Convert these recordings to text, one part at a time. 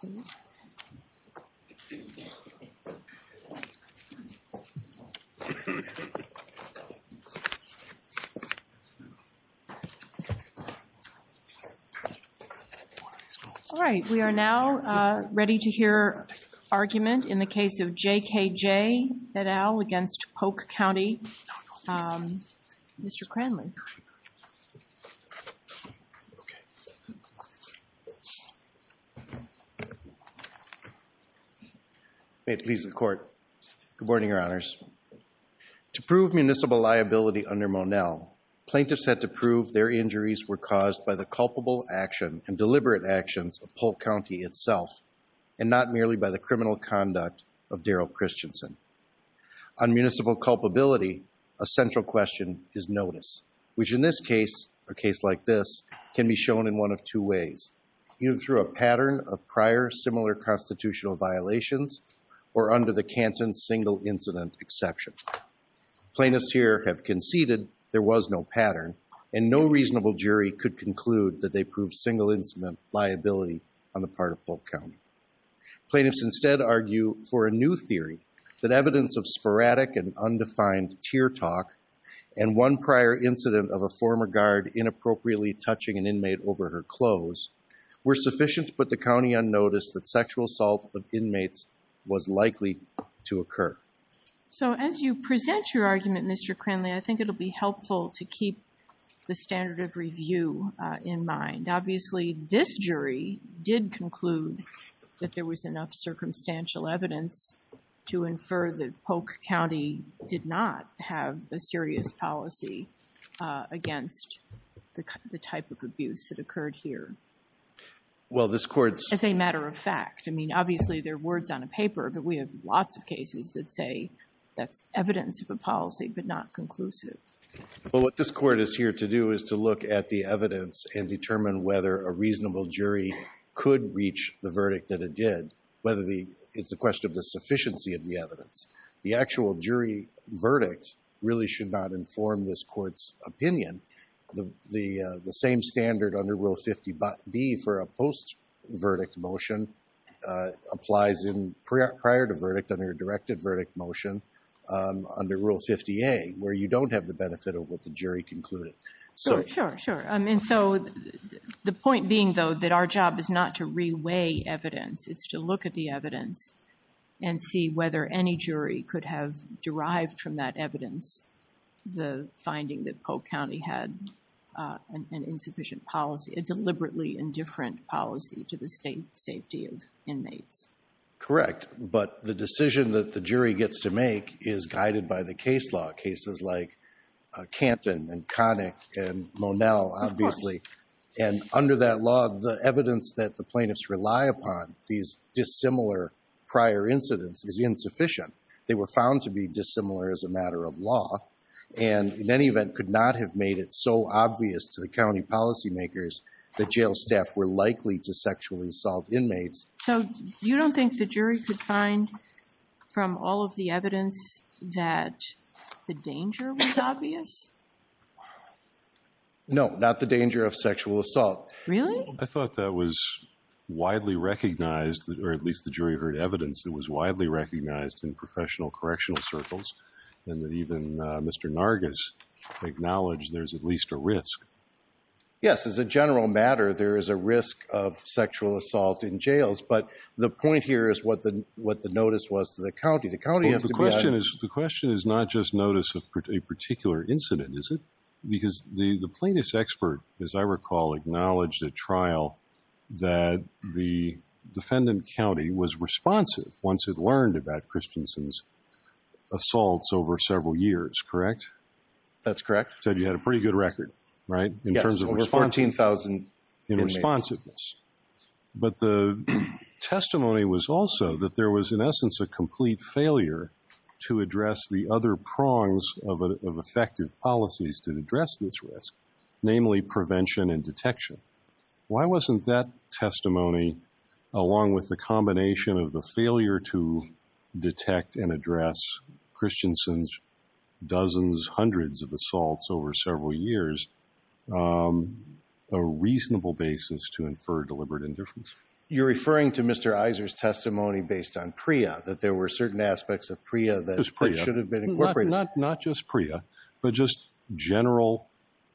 All right, we are now ready to hear argument in the case of J.K.J. et al. against Polk County. Mr. Cranley. May it please the Court. Good morning, Your Honors. To prove municipal liability under Monell, plaintiffs had to prove their injuries were caused by the culpable action and deliberate actions of Polk County itself, and not merely by the criminal conduct of Daryl Christensen. On municipal culpability, a central question is notice, which in this case, a case like this, can be shown in one of two ways, either through a pattern of prior similar constitutional violations or under the Canton single incident exception. Plaintiffs here have conceded there was no pattern and no reasonable jury could conclude that they proved single incident liability on the part of evidence of sporadic and undefined tear talk and one prior incident of a former guard inappropriately touching an inmate over her clothes were sufficient to put the county on notice that sexual assault of inmates was likely to occur. So as you present your argument, Mr. Cranley, I think it'll be helpful to keep the standard of review in mind. Obviously, this jury did conclude that there was enough circumstantial evidence to infer that Polk County did not have a serious policy against the type of abuse that occurred here as a matter of fact. I mean, obviously, there are words on a paper, but we have lots of cases that say that's evidence of a policy, but not conclusive. Well, what this court is here to do is to look at the evidence and determine whether a reasonable jury could reach the verdict that it did, whether it's a question of the sufficiency of the evidence. The actual jury verdict really should not inform this court's opinion. The same standard under Rule 50B for a post-verdict motion applies in prior to verdict under a directed verdict motion under Rule 50A where you don't have the benefit of what the point being, though, that our job is not to re-weigh evidence. It's to look at the evidence and see whether any jury could have derived from that evidence the finding that Polk County had an insufficient policy, a deliberately indifferent policy to the safety of inmates. Correct, but the decision that the jury gets to make is guided by the case law. Cases like Canton and Connick and Monell, obviously, and under that law, the evidence that the plaintiffs rely upon, these dissimilar prior incidents, is insufficient. They were found to be dissimilar as a matter of law and in any event could not have made it so obvious to the county policy makers that jail staff were likely to sexually assault inmates. So you don't think the jury could find from all of the evidence that the danger was obvious? No, not the danger of sexual assault. Really? I thought that was widely recognized or at least the jury heard evidence that was widely recognized in professional correctional circles and that even Mr. Nargis acknowledged there's at least a risk. Yes, as a general matter, there is a risk of notice to the county. The question is not just notice of a particular incident, is it? Because the plaintiff's expert, as I recall, acknowledged at trial that the defendant county was responsive once it learned about Christensen's assaults over several years, correct? That's correct. Said you had a pretty good record, right? Yes, over 14,000 inmates. In responsiveness. But the testimony was also that there was in essence a complete failure to address the other prongs of effective policies to address this risk, namely prevention and detection. Why wasn't that testimony, along with the combination of the failure to detect and address Christensen's hundreds of assaults over several years, a reasonable basis to infer deliberate indifference? You're referring to Mr. Iser's testimony based on PREA, that there were certain aspects of PREA that should have been incorporated. Not just PREA, but just general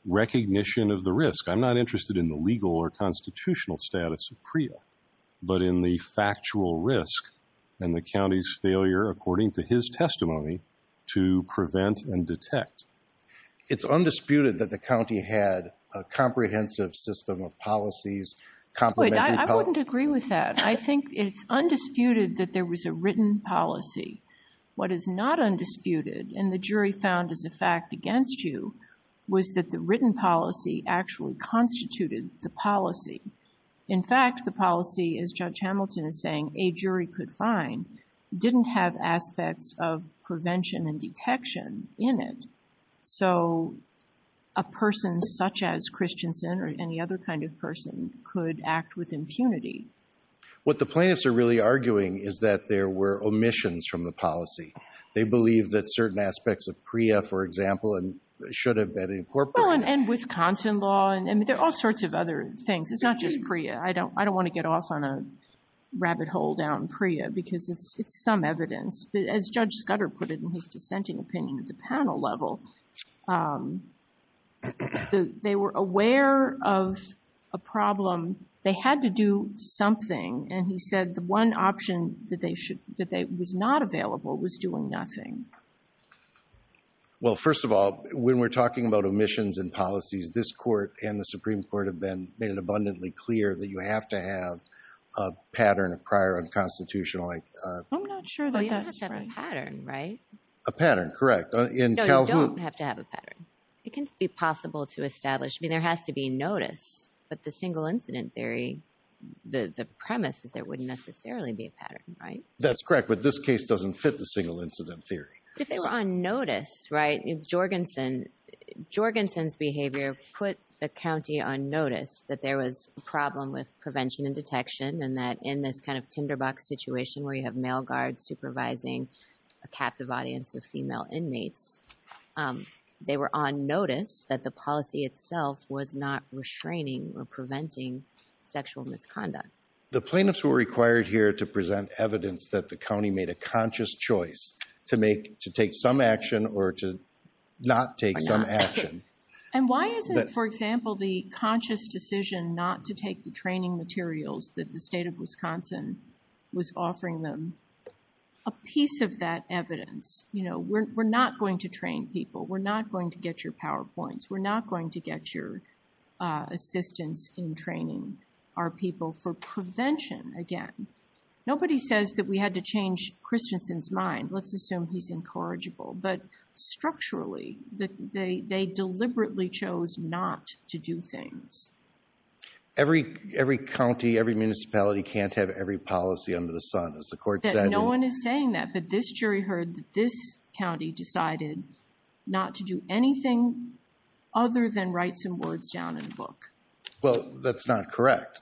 recognition of the risk. I'm not interested in the legal or constitutional status of PREA, but in the factual risk and the county's to prevent and detect. It's undisputed that the county had a comprehensive system of policies. I wouldn't agree with that. I think it's undisputed that there was a written policy. What is not undisputed, and the jury found as a fact against you, was that the written policy actually constituted the policy. In fact, the policy, as Judge Hamilton is saying, a jury could find, didn't have aspects of prevention and detection in it. So, a person such as Christensen or any other kind of person could act with impunity. What the plaintiffs are really arguing is that there were omissions from the policy. They believe that certain aspects of PREA, for example, should have been incorporated. And Wisconsin law, and there are all sorts of other things. It's not just PREA. I don't want to get off on a rabbit hole down PREA because it's some evidence. But as Judge Scudder put it in his dissenting opinion at the panel level, they were aware of a problem. They had to do something. And he said the one option that was not available was doing nothing. Well, first of all, when we're talking about omissions and policies, this court and the pattern of prior unconstitutional... I'm not sure that that's right. Well, you don't have to have a pattern, right? A pattern, correct. In Calhoun... No, you don't have to have a pattern. It can be possible to establish. I mean, there has to be notice. But the single incident theory, the premise is there wouldn't necessarily be a pattern, right? That's correct. But this case doesn't fit the single incident theory. If they were on notice, right? Jorgensen's behavior put the county on notice that there was a problem with prevention and detection, and that in this kind of tinderbox situation where you have male guards supervising a captive audience of female inmates, they were on notice that the policy itself was not restraining or preventing sexual misconduct. The plaintiffs were required here to present evidence that the county made a conscious choice to take some action or to not take some action. And why isn't, for example, the conscious decision not to take the training materials that the state of Wisconsin was offering them a piece of that evidence? We're not going to train people. We're not going to get your PowerPoints. We're not going to get your assistance in training our people for prevention again. Nobody says that we had to change Christensen's mind. Let's assume he's incorrigible. But deliberately chose not to do things. Every county, every municipality can't have every policy under the sun, as the court said. No one is saying that. But this jury heard that this county decided not to do anything other than write some words down in the book. Well, that's not correct.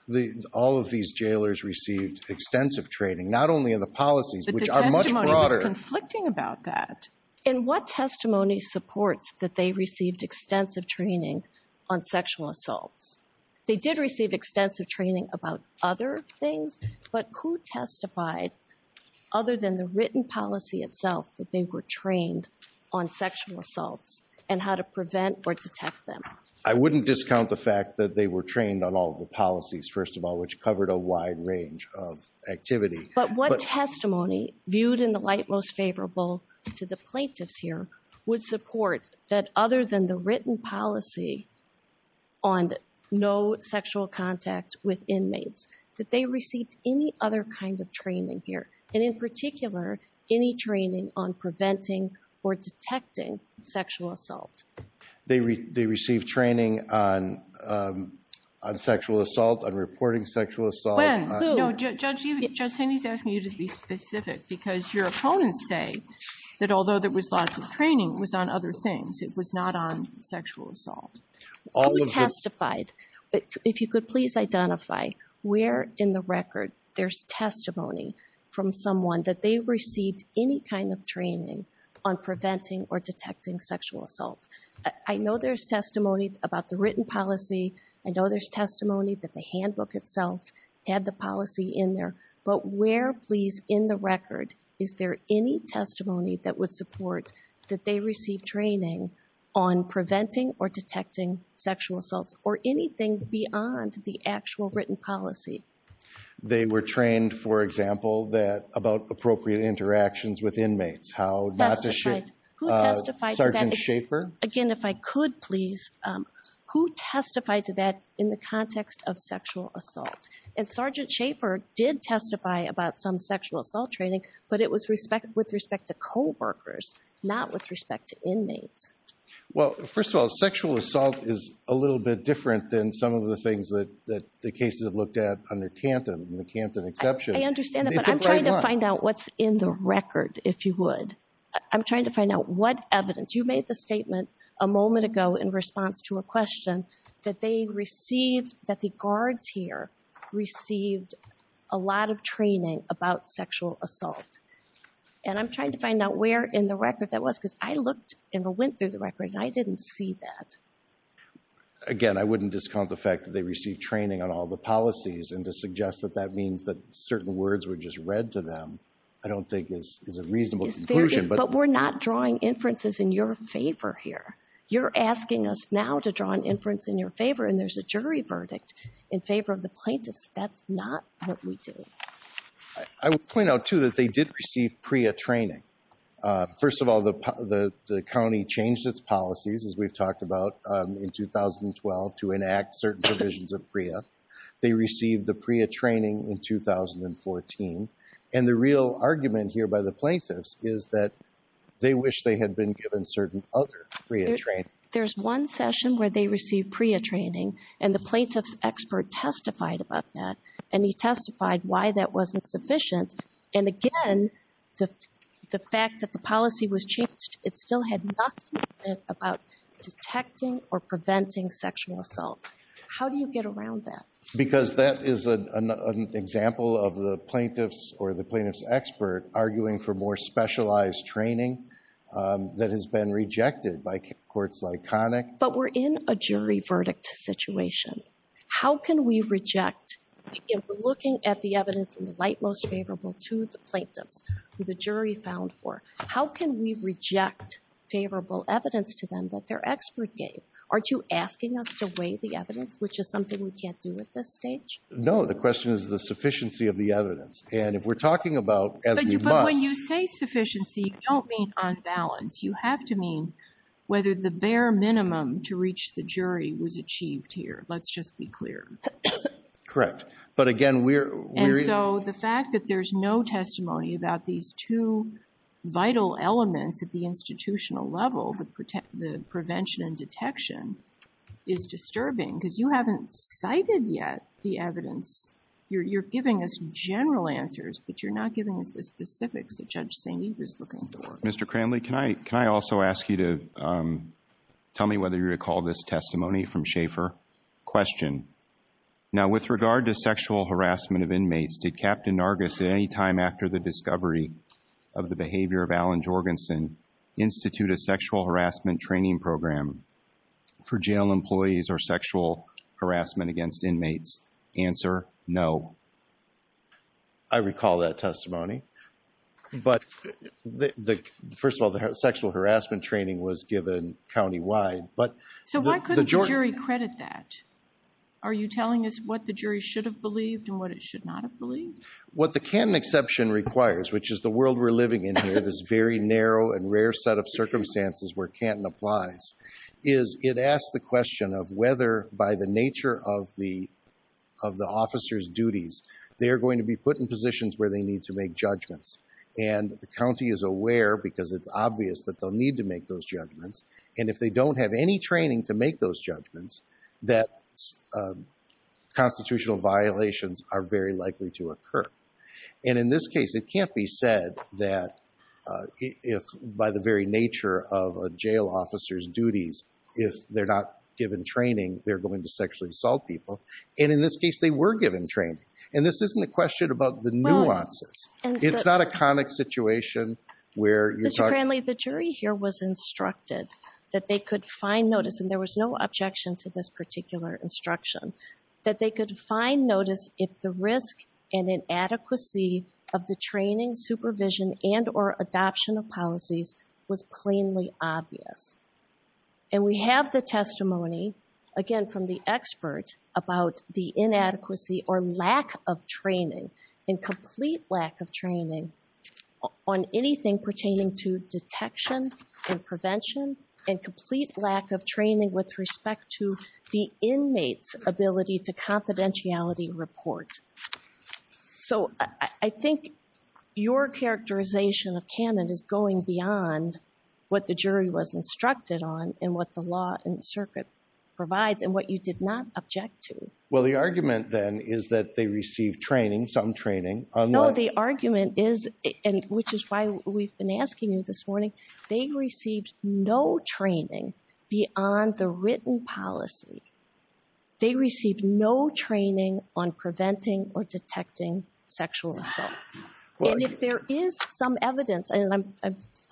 All of these jailers received extensive training, not only in the policies, which are much broader. But the testimony was conflicting about that. And what testimony supports that they received extensive training on sexual assaults? They did receive extensive training about other things. But who testified, other than the written policy itself, that they were trained on sexual assaults and how to prevent or detect them? I wouldn't discount the fact that they were trained on all of the policies, first of all, which covered a wide range of activity. But what testimony, viewed in the light most favorable to the plaintiffs here, would support that other than the written policy on no sexual contact with inmates, that they received any other kind of training here? And in particular, any training on preventing or detecting sexual assault? They received training on sexual assault, on reporting sexual assault. Judge Haney is asking you to be specific, because your opponents say that although there was lots of training, it was on other things. It was not on sexual assault. Who testified? If you could please identify where in the record there's testimony from someone that they received any kind of training on preventing or detecting sexual assault? I know there's testimony about the written policy. I know there's testimony that the handbook itself had the policy in there. But where, please, in the record, is there any testimony that would support that they received training on preventing or detecting sexual assaults, or anything beyond the actual written policy? They were trained, for example, about appropriate interactions with inmates. Testified. Who testified to that? Sergeant Schaefer. Again, if I could please, who testified to that in the context of sexual assault? And Sergeant Schaefer did testify about some sexual assault training, but it was with respect to co-workers, not with respect to inmates. Well, first of all, sexual assault is a little bit different than some of the things that the cases have looked at under Canton, the Canton exception. I understand that, but I'm trying to find out what's in the record, if you would. I'm trying to find out what evidence. You made the statement a moment ago in response to a question that they received, that the guards here received a lot of training about sexual assault. And I'm trying to find out where in the record that was, because I looked and went through the record, and I didn't see that. Again, I wouldn't discount the fact that they received training on all the policies, and to suggest that that means that certain words were just read to them, I don't think is a reasonable conclusion. But we're not drawing inferences in your favor here. You're asking us now to draw an inference in your favor, and there's a jury verdict in favor of the plaintiffs. That's not what we do. I would point out, too, that they did receive PREA training. First of all, the county changed its policies, as we've talked about, in 2012 to enact certain provisions of PREA. They received the PREA training in 2014, and the real argument here by the plaintiffs is that they wish they had been given certain other PREA training. There's one session where they received PREA training, and the plaintiff's expert testified about that, and he testified why that wasn't sufficient. And again, the fact that the policy was changed, it still had nothing about detecting or preventing sexual assault. How do you get around that? Because that is an example of the plaintiff's or the plaintiff's expert arguing for more specialized training that has been rejected by courts like Connick. But we're in a jury verdict situation. How can we reject, if we're looking at the evidence in the light most favorable to the plaintiffs, who the jury found for, how can we reject favorable evidence to them that their expert gave? Aren't you asking us to weigh the evidence, which is something we can't do at this stage? No. The question is the sufficiency of the evidence. And if we're talking about, as we must— But when you say sufficiency, you don't mean on balance. You have to mean whether the bare minimum to reach the jury was achieved here. Let's just be clear. Correct. But again, we're— the prevention and detection is disturbing because you haven't cited yet the evidence. You're giving us general answers, but you're not giving us the specifics that Judge St. Eve is looking for. Mr. Cranley, can I also ask you to tell me whether you recall this testimony from Schaefer? Question. Now, with regard to sexual harassment of inmates, did Captain Nargis at any time after the discovery of the behavior of Alan Jorgensen institute a sexual harassment training program for jail employees or sexual harassment against inmates? Answer, no. I recall that testimony. But the— first of all, the sexual harassment training was given countywide, but— So why couldn't the jury credit that? Are you telling us what the jury should have believed and what it should not have believed? What the Canton exception requires, which is the world we're living in here, this very narrow and rare set of circumstances where Canton applies, is it asks the question of whether, by the nature of the officer's duties, they are going to be put in positions where they need to make judgments. And the county is aware because it's obvious that they'll need to make those judgments. And if they don't have any training to make those judgments, that constitutional violations are very likely to occur. And in this case, it can't be said that if, by the very nature of a jail officer's duties, if they're not given training, they're going to sexually assault people. And in this case, they were given training. And this isn't a question about the nuances. It's not a conic situation where— Mr. Cranley, the jury here was instructed that they could find notice, and there was no objection to this particular instruction, that they could find notice if the risk and inadequacy of the training, supervision, and or adoption of policies was plainly obvious. And we have the testimony, again from the expert, about the inadequacy or lack of training, incomplete lack of training, on anything pertaining to detection and prevention and complete lack of training with respect to the inmate's ability to confidentiality report. So I think your characterization of Cannon is going beyond what the jury was instructed on and what the law and the circuit provides and what you did not object to. Well, the argument then is that they received training, some training. No, the argument is, and which is why we've been asking you this morning, they received no training beyond the written policy. They received no training on preventing or detecting sexual assaults. And if there is some evidence, and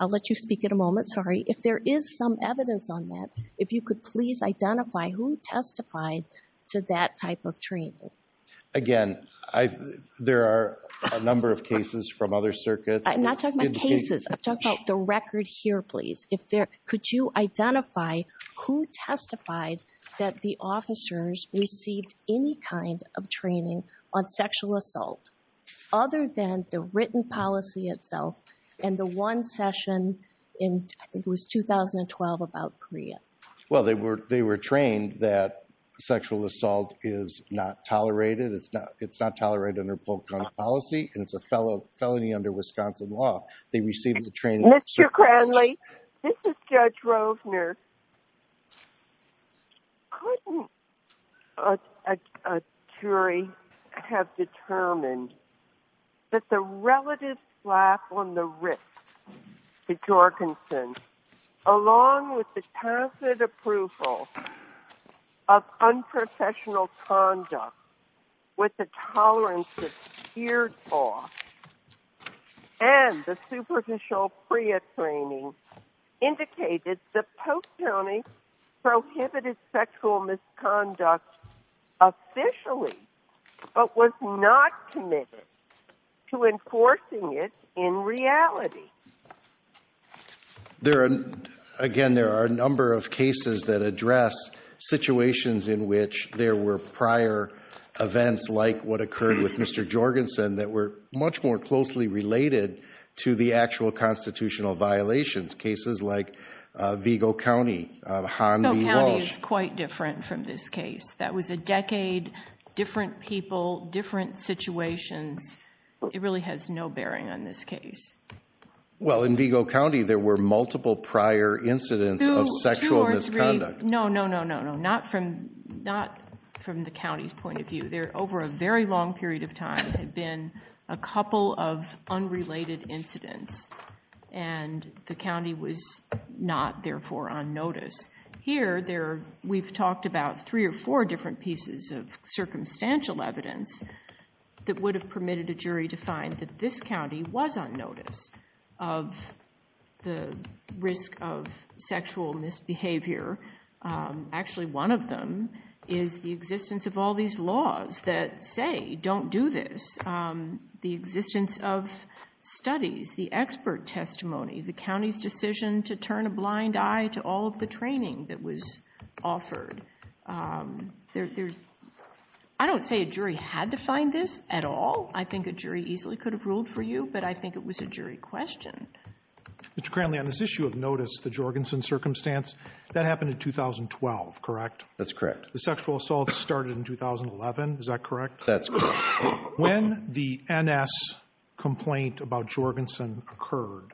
I'll let you speak in a moment, sorry. If there is some evidence on that, if you could please identify who testified to that type of training. Again, there are a number of cases from other circuits— I'm not talking about cases, I'm talking about the record here, please. Could you identify who testified that the officers received any kind of training on sexual assault other than the written policy itself and the one session in, I think it was 2012, about Korea? Well, they were trained that sexual assault is not tolerated, it's not tolerated under Polk County policy, and it's a felony under Wisconsin law. They received the training— Mr. Cranley, this is Judge Rovner. Couldn't a jury have determined that the relative slap on the wrist to Jorgensen, along with the tacit approval of unprofessional conduct with the tolerance that's teared off and the superficial PREA training indicated that Polk County prohibited sexual misconduct officially but was not committed to enforcing it in reality? Again, there are a number of cases that address situations in which there were prior events like what occurred with Mr. Jorgensen that were much more closely related to the actual constitutional violations. Cases like Vigo County, Han V. Walsh— Vigo County is quite different from this case. That was a decade, different people, different situations. It really has no bearing on this case. Well, in Vigo County, there were multiple prior incidents of sexual misconduct. No, no, no, no, no. Not from the county's point of view. There, over a very long period of time, had been a couple of unrelated incidents and the county was not, therefore, on notice. Here, we've talked about three or four different pieces of circumstantial evidence that would have permitted a jury to find that this county was on notice of the risk of sexual misbehavior. Actually, one of them is the existence of all these laws that say, don't do this. The existence of studies, the expert testimony, the county's decision to turn a blind eye to all of the training that was offered. I don't say a jury had to find this at all. I think a jury easily could have ruled for you, but I think it was a jury question. Mr. Cranley, on this issue of notice, the Jorgensen circumstance, that happened in 2012, correct? That's correct. The sexual assault started in 2011, is that correct? That's correct. When the NS complaint about Jorgensen occurred,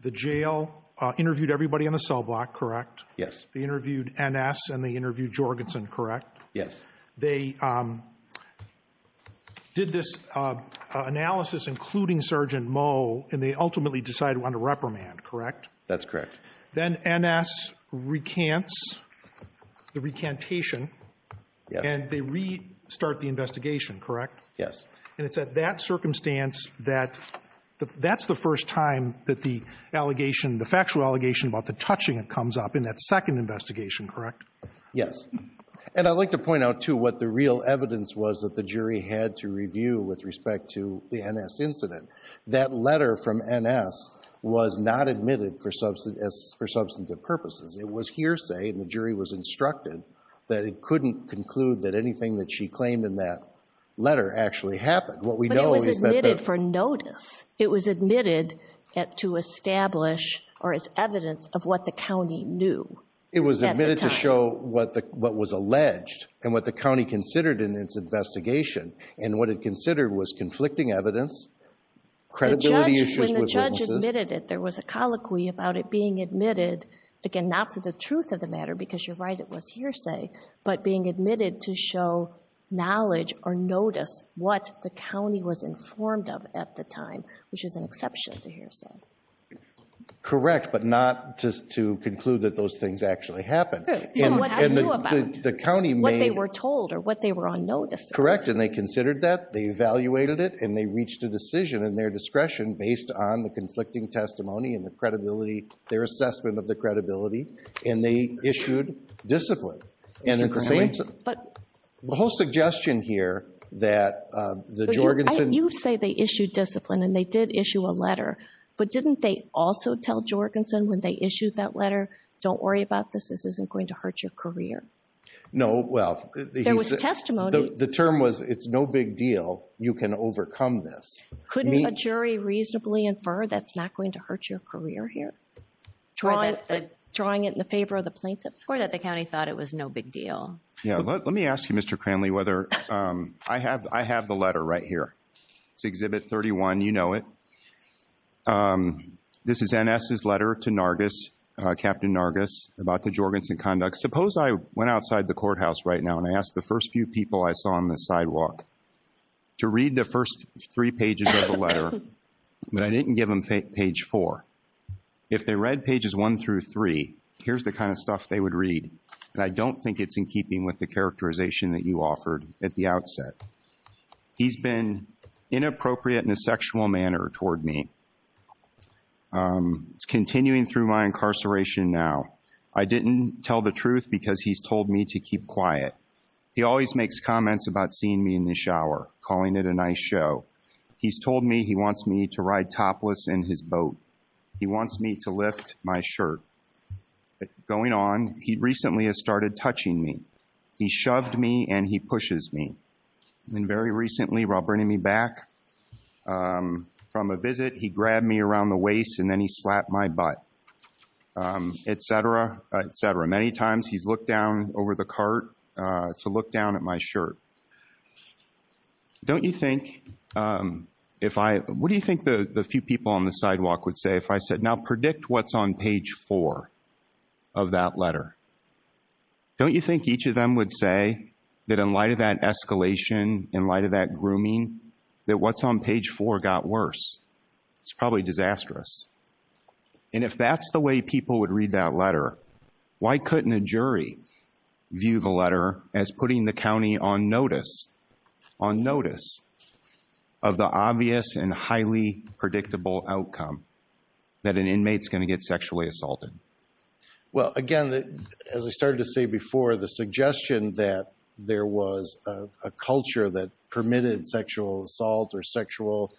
the jail interviewed everybody on the cell block, correct? Yes. They interviewed NS and they interviewed Jorgensen, correct? Yes. They did this analysis, including Sergeant Moe, and they ultimately decided to reprimand, correct? That's correct. Then NS recants the recantation and they restart the investigation, correct? Yes. And it's at that circumstance that that's the first time that the allegation, the factual allegation about the touching comes up in that second investigation, correct? Yes. And I'd like to point out, too, what the real evidence was that the jury had to review with respect to the NS incident. That letter from NS was not admitted for substantive purposes. It was hearsay and the jury was instructed that it couldn't conclude that anything that she claimed in that letter actually happened. But it was admitted for notice. It was admitted to establish or as evidence of what the county knew at the time. What was alleged and what the county considered in its investigation and what it considered was conflicting evidence, credibility issues. When the judge admitted it, there was a colloquy about it being admitted, again, not for the truth of the matter, because you're right, it was hearsay, but being admitted to show knowledge or notice what the county was informed of at the time, which is an exception to hearsay. Correct, but not to conclude that those things actually happened. And what they were told or what they were on notice of. Correct, and they considered that, they evaluated it, and they reached a decision in their discretion based on the conflicting testimony and the credibility, their assessment of the credibility, and they issued discipline. The whole suggestion here that the Jorgensen... You say they issued discipline and they did issue a letter, but didn't they also tell Jorgensen when they issued that letter, don't worry about this, this isn't going to hurt your career? No, well... There was testimony... The term was, it's no big deal, you can overcome this. Couldn't a jury reasonably infer that's not going to hurt your career here? Drawing it in the favor of the plaintiff? Or that the county thought it was no big deal. Yeah, let me ask you, Mr. Cranley, whether... I have the letter right here. It's Exhibit 31, you know it. This is N.S.'s letter to Nargis, Captain Nargis, about the Jorgensen conduct. Suppose I went outside the courthouse right now and I asked the first few people I saw on the sidewalk to read the first three pages of the letter, but I didn't give them page four. If they read pages one through three, here's the kind of stuff they would read, and I don't think it's in keeping with the characterization that you offered at the outset. He's been inappropriate in a sexual manner toward me. It's continuing through my incarceration now. I didn't tell the truth because he's told me to keep quiet. He always makes comments about seeing me in the shower, calling it a nice show. He's told me he wants me to ride topless in his boat. He wants me to lift my shirt. Going on, he recently has started touching me. He shoved me and he pushes me. And very recently, while bringing me back from a visit, he grabbed me around the waist and then he slapped my butt, et cetera, et cetera. Many times he's looked down over the cart to look down at my shirt. Don't you think if I, what do you think the few people on the sidewalk would say if I said, now predict what's on page four of that letter. Don't you think each of them would say that in light of that escalation, in light of that grooming, that what's on page four got worse? It's probably disastrous. And if that's the way people would read that letter, why couldn't a jury view the letter as putting the county on notice, on notice of the obvious and highly predictable outcome that an inmate's going to get sexually assaulted? Well, again, as I started to say before, the suggestion that there was a culture that permitted sexual assault or sexual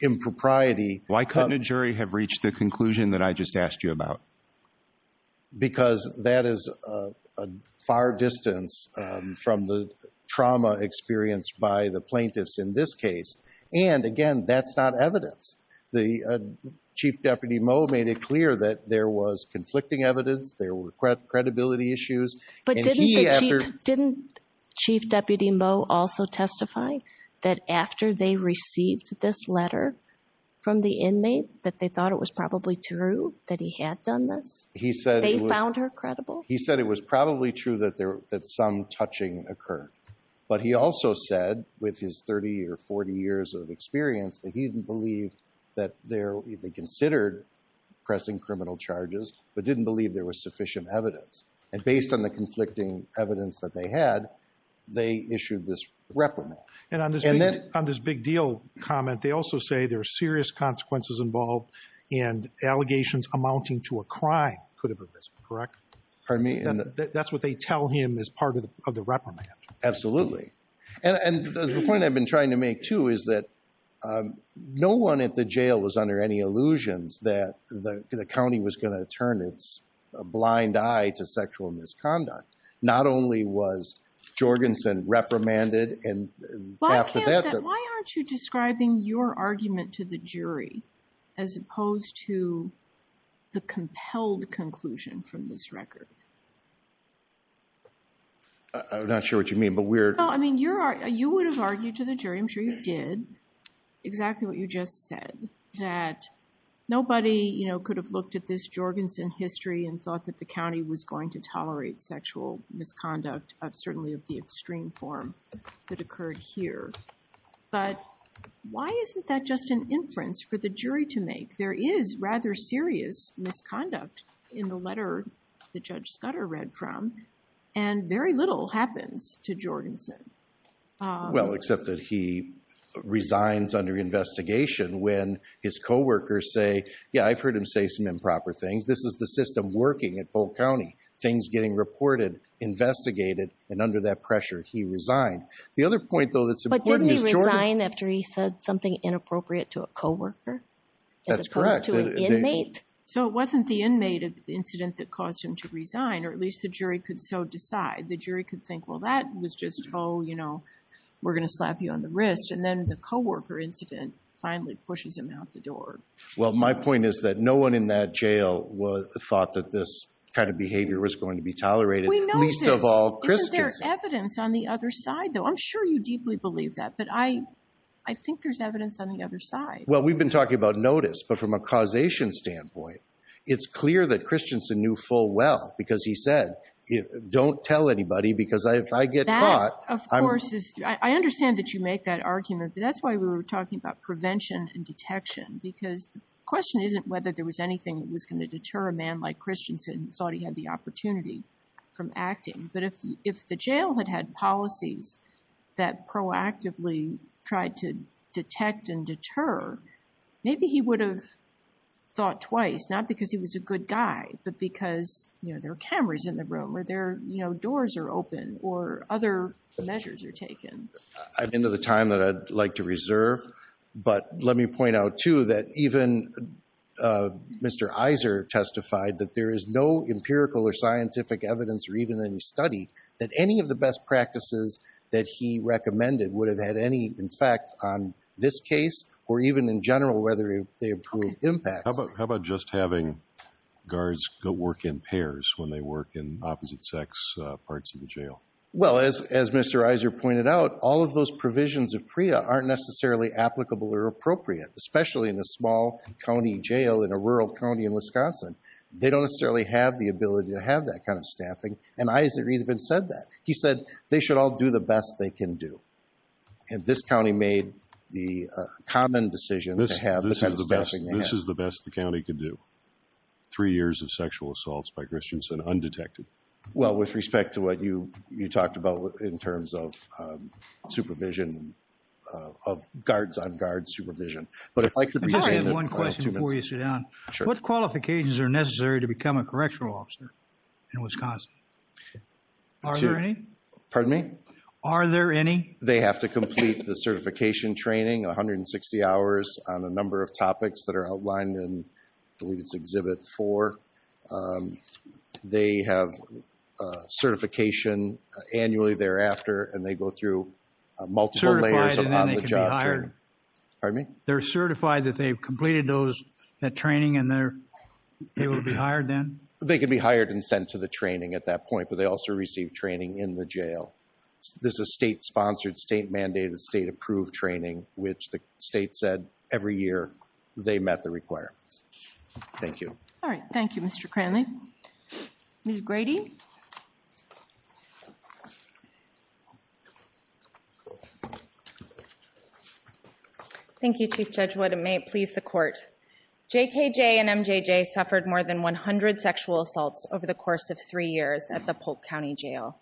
impropriety. Why couldn't a jury have reached the conclusion that I just asked you about? Because that is a far distance from the trauma experienced by the plaintiffs in this case. And again, that's not evidence. The Chief Deputy Moe made it clear that there was conflicting evidence, there were credibility issues. Didn't Chief Deputy Moe also testify that after they received this letter from the inmate, that they thought it was probably true that he had done this? They found her credible? He said it was probably true that some touching occurred. But he also said with his 30 or 40 years of experience that he didn't believe that they considered pressing criminal charges, but didn't believe there was sufficient evidence. And based on the conflicting evidence that they had, they issued this reprimand. And on this big deal comment, they also say there are serious consequences involved and allegations amounting to a crime could have arisen, correct? Pardon me? That's what they tell him as part of the reprimand. Absolutely. And the point I've been trying to make too is that no one at the jail was under any illusions that the county was going to turn its blind eye to sexual misconduct. Not only was Jorgensen reprimanded and after that- Why aren't you describing your argument to the jury as opposed to the compelled conclusion from this record? I'm not sure what you mean, but we're- No, I mean, you would have argued to the jury, I'm sure you did, exactly what you just said, that nobody could have looked at this Jorgensen history and thought that the county was going to tolerate sexual misconduct, certainly of the extreme form that occurred here. But why isn't that just an inference for the jury to make? There is rather serious misconduct and very little happens to Jorgensen. Well, except that he resigns under investigation when his co-workers say, yeah, I've heard him say some improper things. This is the system working at Fulton County. Things getting reported, investigated, and under that pressure, he resigned. The other point, though, that's important- But didn't he resign after he said something inappropriate to a co-worker as opposed to an inmate? So it wasn't the inmate incident that caused him to resign, or at least the jury could so decide. The jury could think, well, that was just, oh, you know, we're going to slap you on the wrist. And then the co-worker incident finally pushes him out the door. Well, my point is that no one in that jail thought that this kind of behavior was going to be tolerated, least of all Christiansen. Isn't there evidence on the other side, though? I'm sure you deeply believe that, but I think there's evidence on the other side. Well, we've been talking about notice, but from a causation standpoint, it's clear that Christiansen knew full well because he said, don't tell anybody, because if I get caught, I'm- That, of course, I understand that you make that argument, but that's why we were talking about prevention and detection, because the question isn't whether there was anything that was going to deter a man like Christiansen who thought he had the opportunity from acting. But if the jail had had policies that proactively tried to detect and deter, maybe he would have thought twice, not because he was a good guy, but because there are cameras in the room, or doors are open, or other measures are taken. At the end of the time that I'd like to reserve, but let me point out, too, that even Mr. Iser testified that there is no empirical or scientific evidence or even any study that any of the best practices that he recommended would have had any effect on this case or even in general, whether they improved impacts. How about just having guards go work in pairs when they work in opposite-sex parts of the jail? Well, as Mr. Iser pointed out, all of those provisions of PREA aren't necessarily applicable or appropriate, especially in a small county jail in a rural county in Wisconsin. They don't necessarily have the ability to have that kind of staffing, and Iser even said that. He said they should all do the best they can do. And this county made the common decision to have the kind of staffing they have. This is the best the county could do. Three years of sexual assaults by Christiansen undetected. Well, with respect to what you talked about in terms of supervision, of guards-on-guards supervision, but if I could be... I have one question before you sit down. What qualifications are necessary to become a correctional officer in Wisconsin? Are there any? Pardon me? Are there any? They have to complete the certification training, 160 hours on a number of topics that are outlined in, I believe it's Exhibit 4. They have certification annually thereafter, and they go through multiple layers of on-the-job training. Certified and then they can be hired? Pardon me? They're certified that they've completed that training and they're able to be hired then? They can be hired and sent to the training at that point, but they also receive training in the jail. This is state-sponsored, state-mandated, state-approved training, which the state said every year they met the requirements. Thank you. All right. Thank you, Mr. Cranley. Ms. Grady? Thank you, Chief Judge Wood. It may please the court. JKJ and MJJ suffered more than 100 sexual assaults over the course of three years at the Polk County Jail.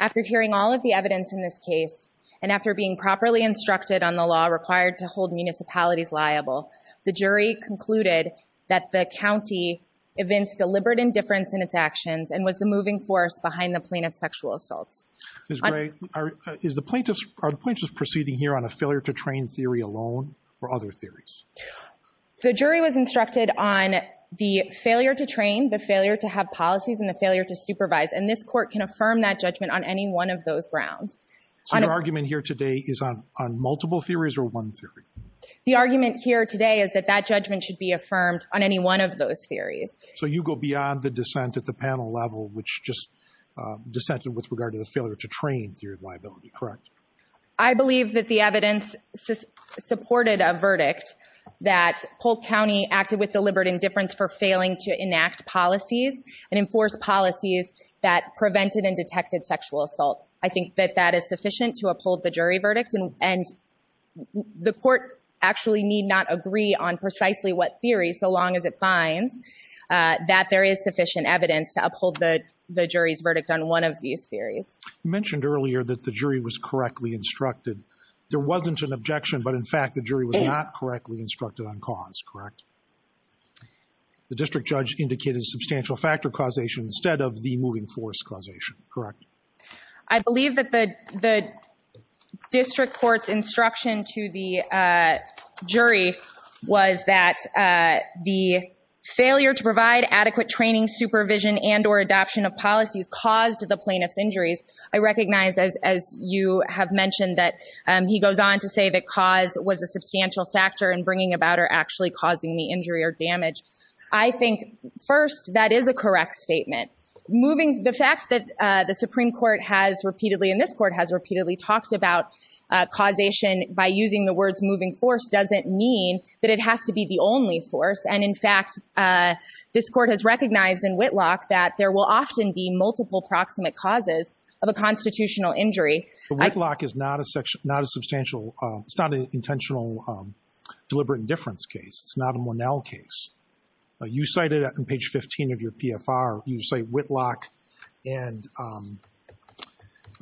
After hearing all of the evidence in this case and after being properly instructed on the law required to hold municipalities liable, the jury concluded that the county evinced deliberate indifference in its actions and was the moving force behind the plaintiff's sexual assaults. Ms. Grady, are the plaintiffs proceeding here on a failure-to-train theory alone or other theories? The jury was instructed on the failure to train, the failure to have policies, and the failure to supervise, and this court can affirm that judgment on any one of those grounds. So your argument here today is on multiple theories or one theory? The argument here today is that that judgment should be affirmed on any one of those theories. So you go beyond the dissent at the panel level, which just dissented with regard to the failure to train theory of liability, correct? I believe that the evidence supported a verdict that Polk County acted with deliberate indifference for failing to enact policies and enforce policies that prevented and detected sexual assault. I think that that is sufficient to uphold the jury verdict and the court actually need not agree on precisely what theory, so long as it finds that there is sufficient evidence to uphold the jury's verdict on one of these theories. You mentioned earlier that the jury was correctly instructed. There wasn't an objection, but in fact, the jury was not correctly instructed on cause, correct? The district judge indicated substantial factor causation instead of the moving force causation, correct? I believe that the district court's instruction to the jury was that the failure to provide adequate training, supervision, and or adoption of policies caused the plaintiff's injuries. I recognize as you have mentioned that he goes on to say that cause was a substantial factor in bringing about or actually causing the injury or damage. I think first, that is a correct statement. The fact that the Supreme Court has repeatedly and this court has repeatedly talked about causation by using the words moving force doesn't mean that it has to be the only force. And in fact, this court has recognized in Whitlock that there will often be multiple proximate causes of a constitutional injury. Whitlock is not a substantial, it's not an intentional deliberate indifference case. It's not a Monell case. You cited it on page 15 of your PFR. You cite Whitlock and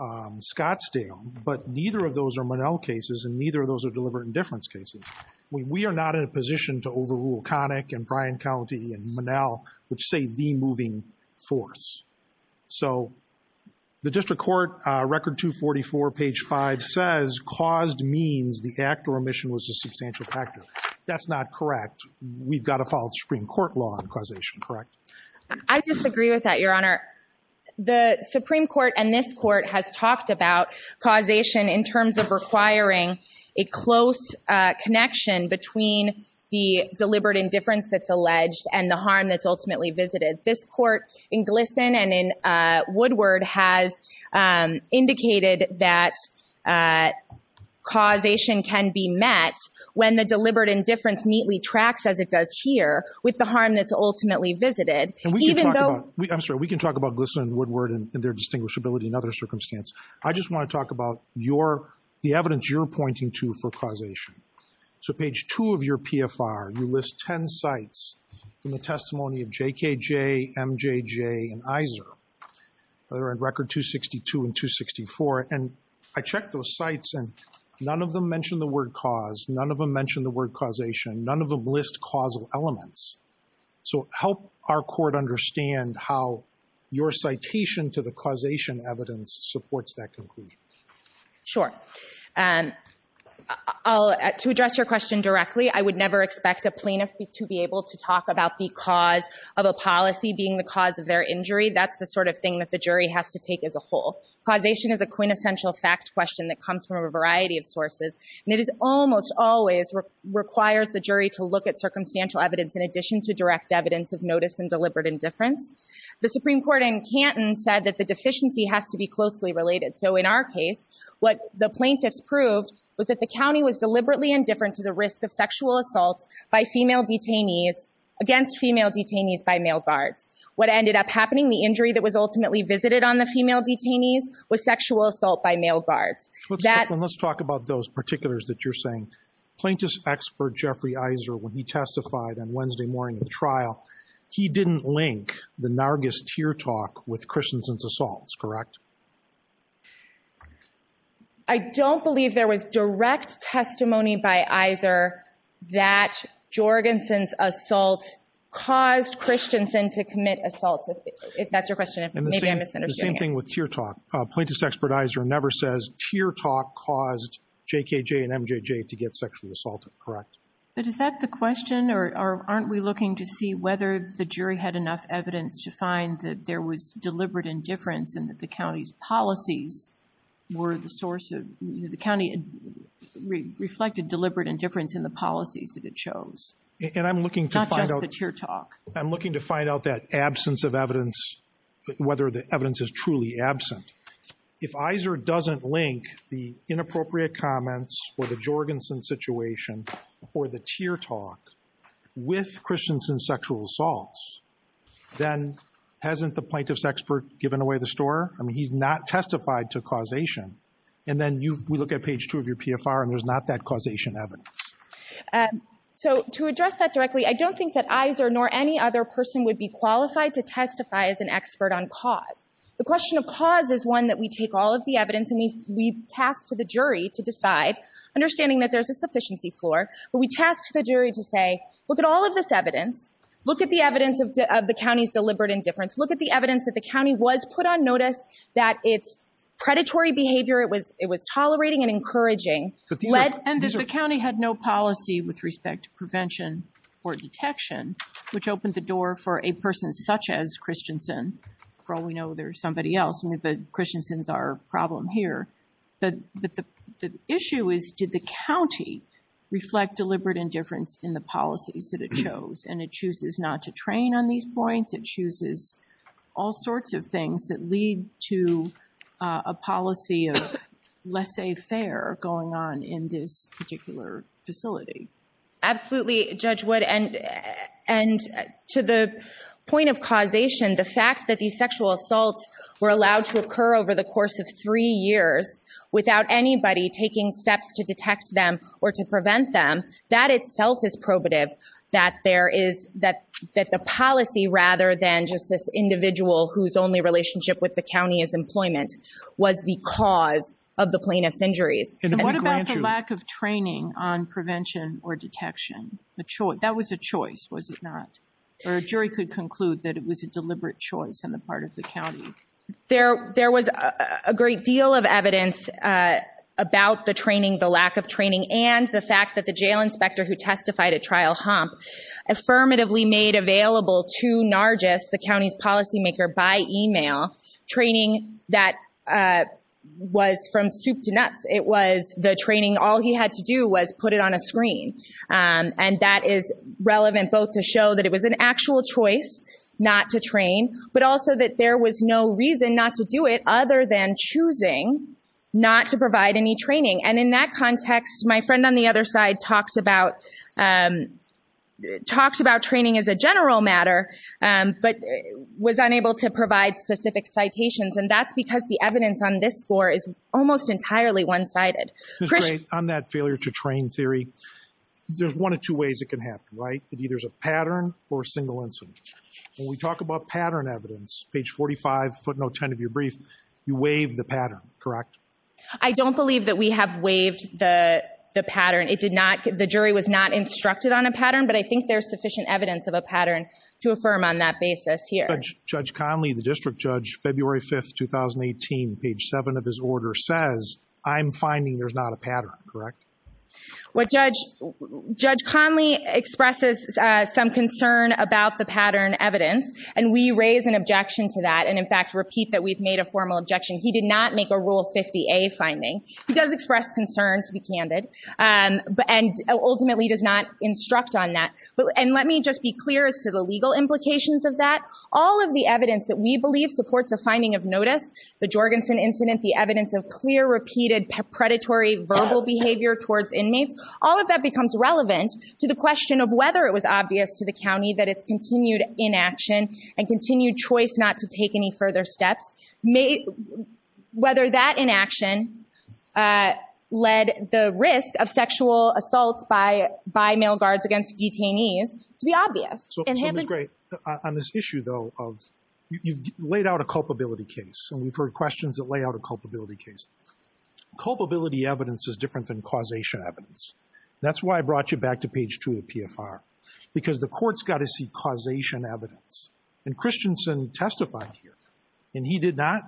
Scottsdale, but neither of those are Monell cases and neither of those are deliberate indifference cases. We are not in a position to overrule Connick and Bryan County and Monell, which say the moving force. So the district court record 244, page five says caused means the act or omission was a substantial factor. That's not correct. We've got to follow the Supreme Court law on causation, correct? I disagree with that, Your Honor. The Supreme Court and this court has talked about causation in terms of requiring a close connection between the deliberate indifference that's alleged and the harm that's ultimately visited. This court in Glisson and in Woodward has indicated that causation can be met when the deliberate indifference neatly tracks as it does here with the harm that's ultimately visited. And we can talk about, I'm sorry, we can talk about Glisson and Woodward and their distinguishability in other circumstances. I just want to talk about your, the evidence you're pointing to for causation. So page two of your PFR, you list 10 sites from the testimony of JKJ, MJJ, and Iser that are on record 262 and 264. And I checked those sites and none of them mentioned the word cause. None of them mentioned the word causation. None of them list causal elements. So help our court understand how your citation to the causation evidence supports that conclusion. Sure. To address your question directly, I would never expect a plaintiff to be able to talk about the cause of a policy being the cause of their injury. That's the sort of thing that the jury has to take as a whole. Causation is a quintessential fact question that comes from a variety of sources. And it is almost always requires the jury to look at circumstantial evidence in addition to direct evidence of notice and deliberate indifference. The Supreme Court in Canton said that the deficiency has to be closely related. So in our case, what the plaintiffs proved was that the county was deliberately indifferent to the risk of sexual assaults by female detainees against female detainees by male guards. What ended up happening, the injury that was ultimately visited on the female detainees was sexual assault by male guards. Let's talk about those particulars that you're saying. Plaintiff's expert, Jeffrey Iser, when he testified on Wednesday morning of the trial, he didn't link the Nargis tear talk with Christensen's assaults, correct? I don't believe there was direct testimony by Iser that Jorgensen's assault caused Christensen to commit assaults, if that's your question. And the same thing with tear talk. Plaintiff's expert Iser never says tear talk caused JKJ and MJJ to get sexually assaulted, correct? But is that the question, or aren't we looking to see whether the jury had enough evidence to find that there was deliberate indifference and that the county's policies were the source of, the county reflected deliberate indifference in the policies that it chose. And I'm looking to find out- Not just the tear talk. I'm looking to find out that absence of evidence, whether the evidence is truly absent. If Iser doesn't link the inappropriate comments or the Jorgensen situation or the tear talk with Christensen's sexual assaults, then hasn't the plaintiff's expert given away the story? I mean, he's not testified to causation. And then we look at page two of your PFR and there's not that causation evidence. So to address that directly, I don't think that Iser nor any other person would be qualified to testify as an expert on cause. The question of cause is one that we take all of the evidence and we task to the jury to decide, understanding that there's a sufficiency floor, but we task the jury to say, look at all of this evidence, look at the evidence of the county's deliberate indifference, look at the evidence that the county was put on notice that it's predatory behavior, it was tolerating and encouraging. And that the county had no policy with respect to prevention or detection, which opened the door for a person such as Christensen. For all we know, there's somebody else. Christensen's our problem here. But the issue is, did the county reflect deliberate indifference in the policies that it chose? And it chooses not to train on these points, it chooses all sorts of things that lead to a policy of laissez-faire going on in this particular facility. Absolutely, Judge Wood. And to the point of causation, the fact that these sexual assaults were allowed to occur over the course of three years without anybody taking steps to detect them or to prevent them, that itself is probative that the policy, rather than just this individual whose only relationship with the county is employment, was the cause of the plaintiff's injuries. And what about the lack of training on prevention or detection? That was a choice, was it not? Or a jury could conclude that it was a deliberate choice on the part of the county. There was a great deal of evidence about the training, the lack of training, and the fact that the jail inspector who testified at Trial Hump affirmatively made available to Nargis, the county's policymaker, by email training that was from soup to nuts. It was the training, all he had to do was put it on a screen. And that is relevant both to show that it was an actual choice not to train, but also that there was no reason not to do it other than choosing not to provide any training. And in that context, my friend on the other side talked about training as a general matter, but was unable to provide specific citations. And that's because the evidence on this score is almost entirely one-sided. It's great. On that failure to train theory, there's one of two ways it can happen, right? It either is a pattern or a single incident. When we talk about pattern evidence, page 45, footnote 10 of your brief, you waive the pattern, correct? I don't believe that we have waived the pattern. The jury was not instructed on a pattern, but I think there's sufficient evidence of a pattern to affirm on that basis here. Judge Conley, the district judge, February 5th, 2018, page seven of his order says, I'm finding there's not a pattern, correct? Judge Conley expresses some concern about the pattern evidence, and we raise an objection to that. And in fact, repeat that we've made a formal objection. He did not make a Rule 50A finding. He does express concern to be candid, and ultimately does not instruct on that. And let me just be clear as to the legal implications of that. All of the evidence that we believe supports a finding of notice, the Jorgensen incident, the evidence of clear, repeated predatory verbal behavior towards inmates, all of that becomes relevant to the question of whether it was obvious to the county that it's continued inaction and continued choice not to take any further steps, whether that inaction led the risk of sexual assault by male guards against detainees to be obvious. So, Ms. Gray, on this issue, though, of you've laid out a culpability case, and we've heard questions that lay out a culpability case. Culpability evidence is different than causation evidence. That's why I brought you back to page two of the PFR, because the court's got to see causation evidence. And Christensen testified here, and he did not.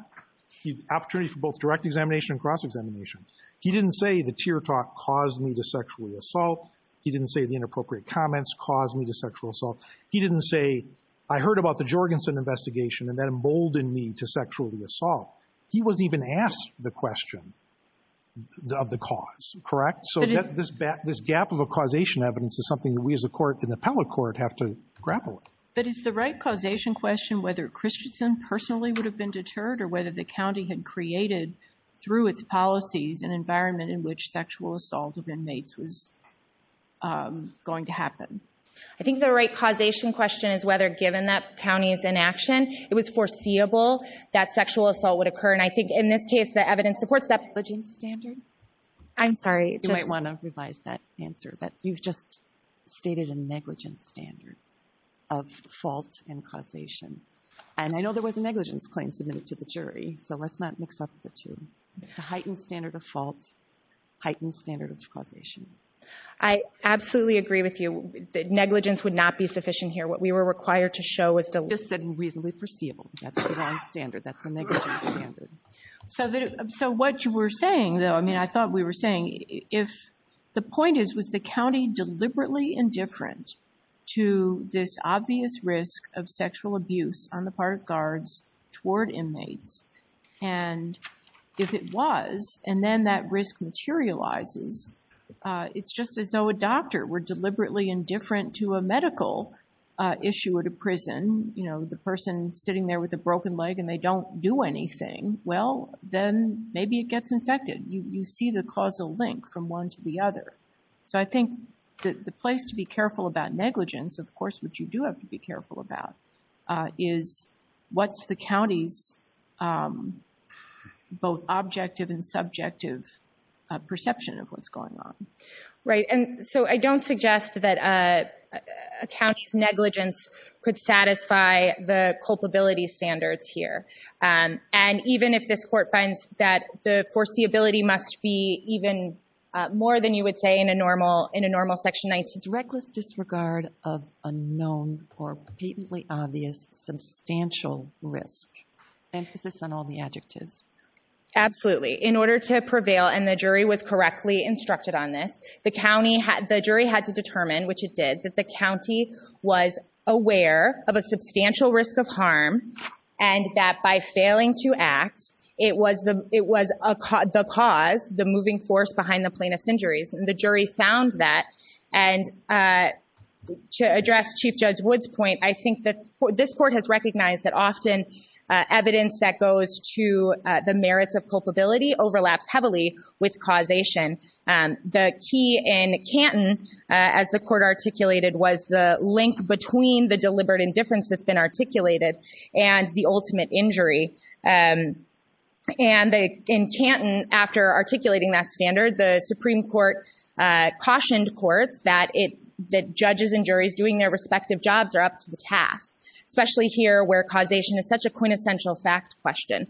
Opportunity for both direct examination and cross-examination. He didn't say the tear talk caused me to sexually assault. He didn't say the inappropriate comments caused me to sexual assault. He didn't say, I heard about the Jorgensen investigation and that emboldened me to sexually assault. He wasn't even asked the question of the cause, correct? So this gap of a causation evidence is something that we as a court in the appellate court have to grapple with. But is the right causation question whether Christensen personally would have been deterred, or whether the county had created, through its policies, an environment in which sexual assault of inmates was going to happen? I think the right causation question is whether given that county is in action, it was foreseeable that sexual assault would occur. And I think in this case, the evidence supports that standard. I'm sorry. You might want to revise that answer, that you've just stated a negligence standard of fault and causation. And I know there was a negligence claim submitted to the jury, so let's not mix up the two. It's a heightened standard of fault, heightened standard of causation. I absolutely agree with you. Negligence would not be sufficient here. What we were required to show was just said reasonably foreseeable. That's the wrong standard. That's a negligence standard. So what you were saying, though, I mean, I thought we were saying, if the point is, was the county deliberately indifferent to this obvious risk of sexual abuse on the part of guards toward inmates? And if it was, and then that risk materializes, it's just as though a doctor were deliberately indifferent to a medical issue at a prison. You know, the person sitting there with a broken leg and they don't do anything. Well, then maybe it gets infected. You see the causal link from one to the other. So I think the place to be careful about negligence, of course, which you do have to be careful about, is what's the county's both objective and subjective perception of what's going on. Right. And so I don't suggest that a county's negligence could satisfy the culpability standards here. And even if this court finds that the foreseeability must be even more than you would say in a normal section 19. Reckless disregard of unknown or patently obvious substantial risk. Emphasis on all the adjectives. Absolutely. In order to prevail, and the jury was correctly instructed on this, the jury had to determine, which it did, that the county was aware of a substantial risk of harm and that by failing to act, it was the cause, the moving force behind the plaintiff's injuries. And the jury found that. And to address Chief Judge Wood's point, I think that this court has recognized that often evidence that goes to the merits of culpability overlaps heavily with causation. The key in Canton, as the court articulated, was the link between the deliberate indifference that's been articulated and the ultimate injury. And in Canton, after articulating that standard, the Supreme Court cautioned courts that judges and juries doing their respective jobs are up to the task, especially here where causation is such a quintessential fact question.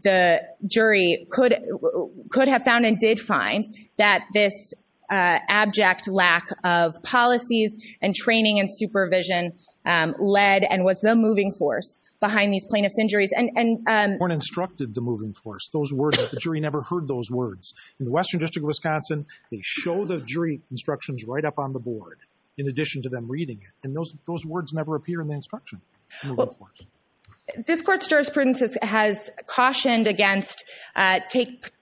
The jury could have found and did find that this abject lack of policies and training and supervision led and was the moving force behind these plaintiff's injuries. And... ...instructed the moving force. Those words, the jury never heard those words. In the Western District of Wisconsin, they show the jury instructions right up on the board in addition to them reading it. And those words never appear in the instruction. This court's jurisprudence has cautioned against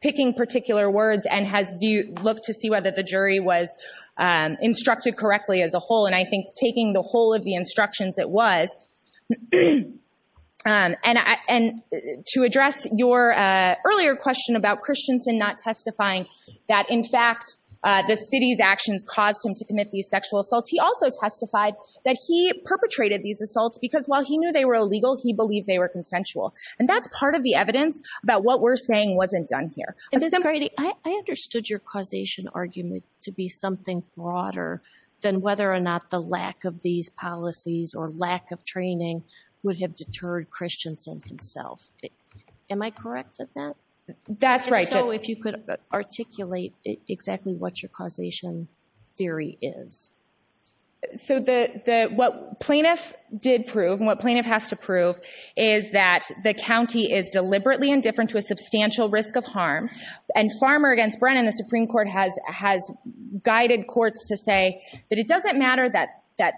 picking particular words and has looked to see whether the jury was instructed correctly as a whole. And I think taking the whole of the instructions it was, and to address your earlier question about Christensen not testifying, that in fact, the city's actions caused him to commit these sexual assaults. He also testified that he perpetrated these assaults because while he knew they were illegal, he believed they were consensual. And that's part of the evidence about what we're saying wasn't done here. Ms. Brady, I understood your causation argument to be something broader than whether or not the lack of these policies or lack of training would have deterred Christensen himself. Am I correct at that? That's right. And so if you could articulate exactly what your causation theory is. So what plaintiff did prove and what plaintiff has to prove is that the county is deliberately indifferent to a substantial risk of harm. And Farmer against Brennan, the Supreme Court has guided courts to say that it doesn't matter that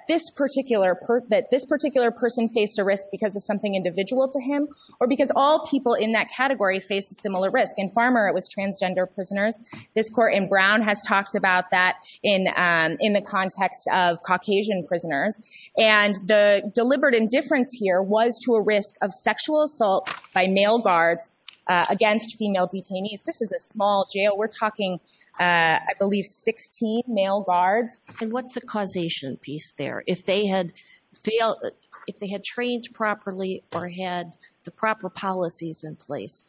this particular person faced a risk because of something individual to him or because all people in that category face a similar risk. In Farmer, it was transgender prisoners. This court in Brown has talked about that in the context of Caucasian prisoners. And the deliberate indifference here was to a risk of sexual assault by male guards against female detainees. This is a small jail. We're talking, I believe, 16 male guards. And what's the causation piece there? If they had failed, if they had trained properly or had the proper policies in place,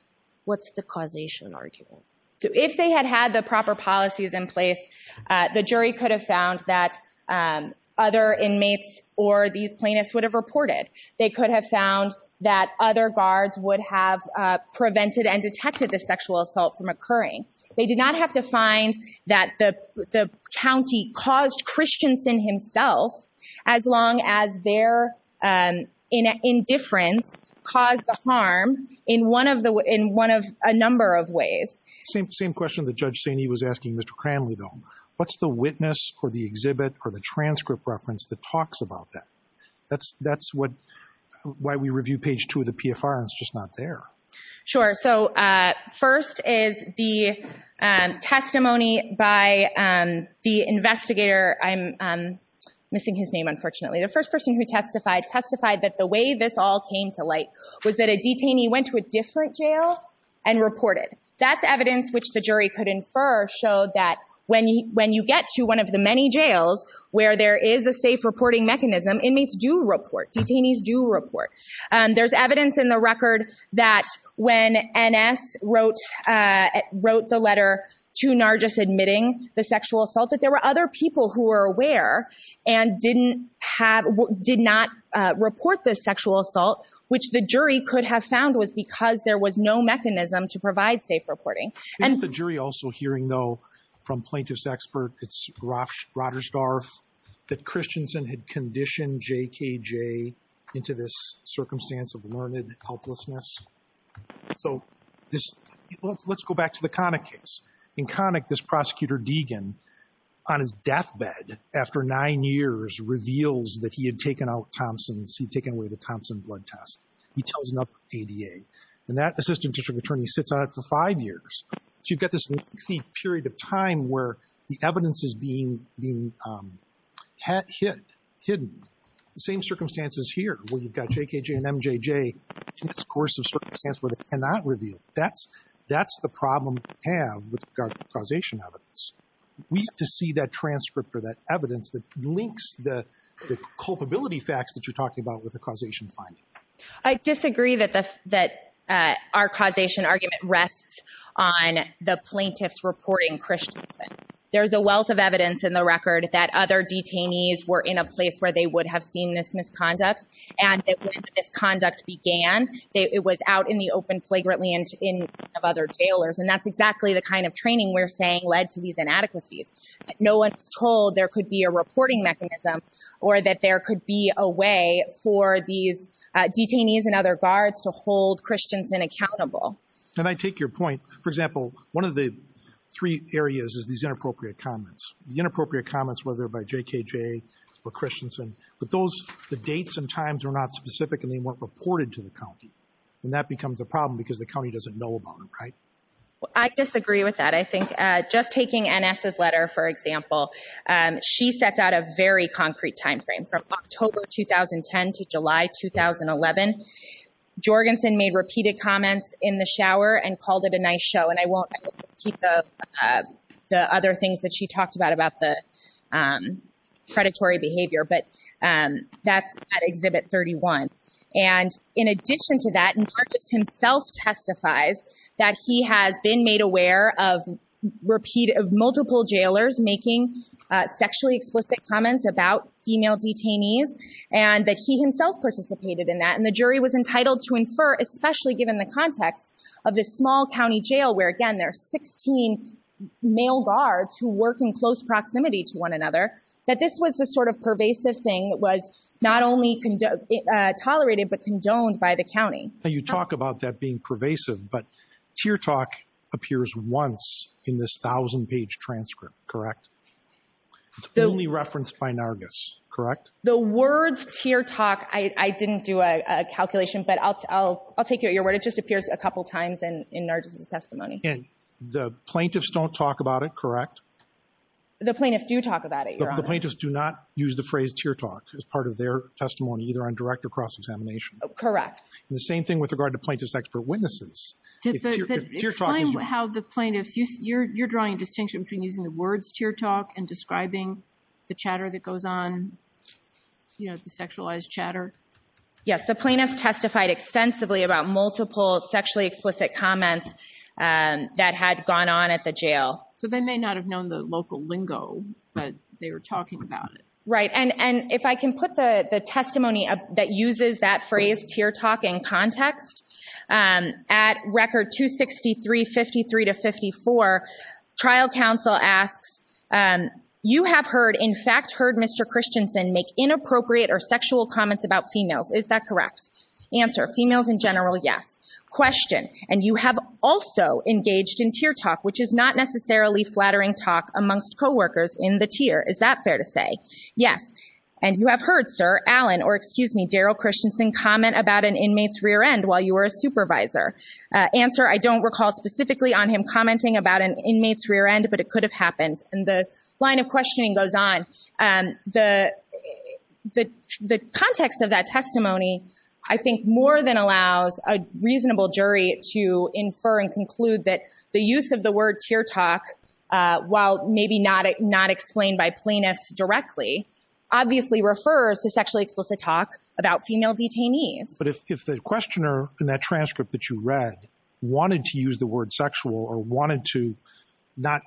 what's the causation argument? If they had had the proper policies in place, the jury could have found that other inmates or these plaintiffs would have reported. They could have found that other guards would have prevented and detected the sexual assault from occurring. They did not have to find that the county caused Christensen himself as long as their indifference caused the harm in a number of ways. Same question that Judge Sainee was asking Mr. Cranley, though. What's the witness or the exhibit or the transcript reference that talks about that? That's why we review page two of the PFR and it's just not there. Sure. First is the testimony by the investigator. I'm missing his name, unfortunately. The first person who testified testified that the way this all came to light was that a detainee went to a different jail and reported. That's evidence which the jury could infer showed that when you get to one of the many jails where there is a safe reporting mechanism, inmates do report. Detainees do report. There's evidence in the record that when N.S. wrote the letter to Nargis admitting the sexual assault that there were other people who were aware and did not report the sexual assault, which the jury could have found was because there was no mechanism to provide safe reporting. Isn't the jury also hearing, though, from plaintiff's expert, it's Rogersdorf, that Christensen had conditioned J.K.J. into this circumstance of learned helplessness? So let's go back to the Connick case. In Connick, this prosecutor Deegan on his deathbed after nine years reveals that he had taken out Thompson's, he'd taken away the Thompson blood test. He tells another ADA. And that assistant district attorney sits on it for five years. So you've got this lengthy period of time where the evidence is being hidden. The same circumstances here where you've got J.K.J. and MJJ in this coercive circumstance where they cannot reveal. That's the problem we have with regard to causation evidence. We have to see that transcript or that evidence that links the culpability facts that you're talking about with the causation finding. I disagree that our causation argument rests on the plaintiffs reporting Christensen. There's a wealth of evidence in the record that other detainees were in a place where they would have seen this misconduct. And when the misconduct began, it was out in the open flagrantly in front of other jailers. And that's exactly the kind of training we're saying led to these inadequacies. No one's told there could be a reporting mechanism or that there could be a way for these detainees and other guards to hold Christensen accountable. Can I take your point? For example, one of the three areas is these inappropriate comments. The inappropriate comments, whether by J.K.J. or Christensen, but those, the dates and times are not specific and they weren't reported to the county. And that becomes a problem because the county doesn't know about it, right? I disagree with that. I think just taking N.S.'s letter, for example, she sets out a very concrete timeframe from October 2010 to July 2011. Jorgensen made repeated comments in the shower and called it a nice show. And I won't keep the other things that she talked about about the predatory behavior. But that's at Exhibit 31. And in addition to that, Nargis himself testifies that he has been made aware of multiple jailers making sexually explicit comments about female detainees and that he himself participated in that. And the jury was entitled to infer, especially given the context of this small county jail, where, again, there are 16 male guards who work in close proximity to one another, that this was the sort of pervasive thing that was not only tolerated, but condoned by the county. Now, you talk about that being pervasive, but tear talk appears once in this thousand-page transcript, correct? It's only referenced by Nargis, correct? The words tear talk, I didn't do a calculation, but I'll take your word. It just appears a couple times in Nargis's testimony. And the plaintiffs don't talk about it, correct? The plaintiffs do talk about it, Your Honor. The plaintiffs do not use the phrase tear talk as part of their testimony, either on direct or cross-examination. Correct. The same thing with regard to plaintiff's expert witnesses. Explain how the plaintiffs, you're drawing a distinction between using the words tear talk and describing the chatter that goes on, you know, the sexualized chatter. Yes, the plaintiffs testified extensively about multiple sexually explicit comments that had gone on at the jail. So they may not have known the local lingo, but they were talking about it. Right. And if I can put the testimony that uses that phrase tear talk in context, at record 263-53-54, trial counsel asks, you have heard, in fact, heard Mr. Christensen make inappropriate or sexual comments about females. Is that correct? Answer, females in general, yes. Question, and you have also engaged in tear talk, which is not necessarily flattering talk amongst co-workers in the tier. Is that fair to say? Yes. And you have heard Sir Allen, or excuse me, Daryl Christensen comment about an inmate's rear end while you were a supervisor. Answer, I don't recall specifically on him commenting about an inmate's rear end, but it could have happened. And the line of questioning goes on. The context of that testimony, I think more than allows a reasonable jury to infer and conclude that the use of the word tear talk, while maybe not explained by plaintiffs directly, obviously refers to sexually explicit talk about female detainees. But if the questioner in that transcript that you read wanted to use the word sexual or wanted to not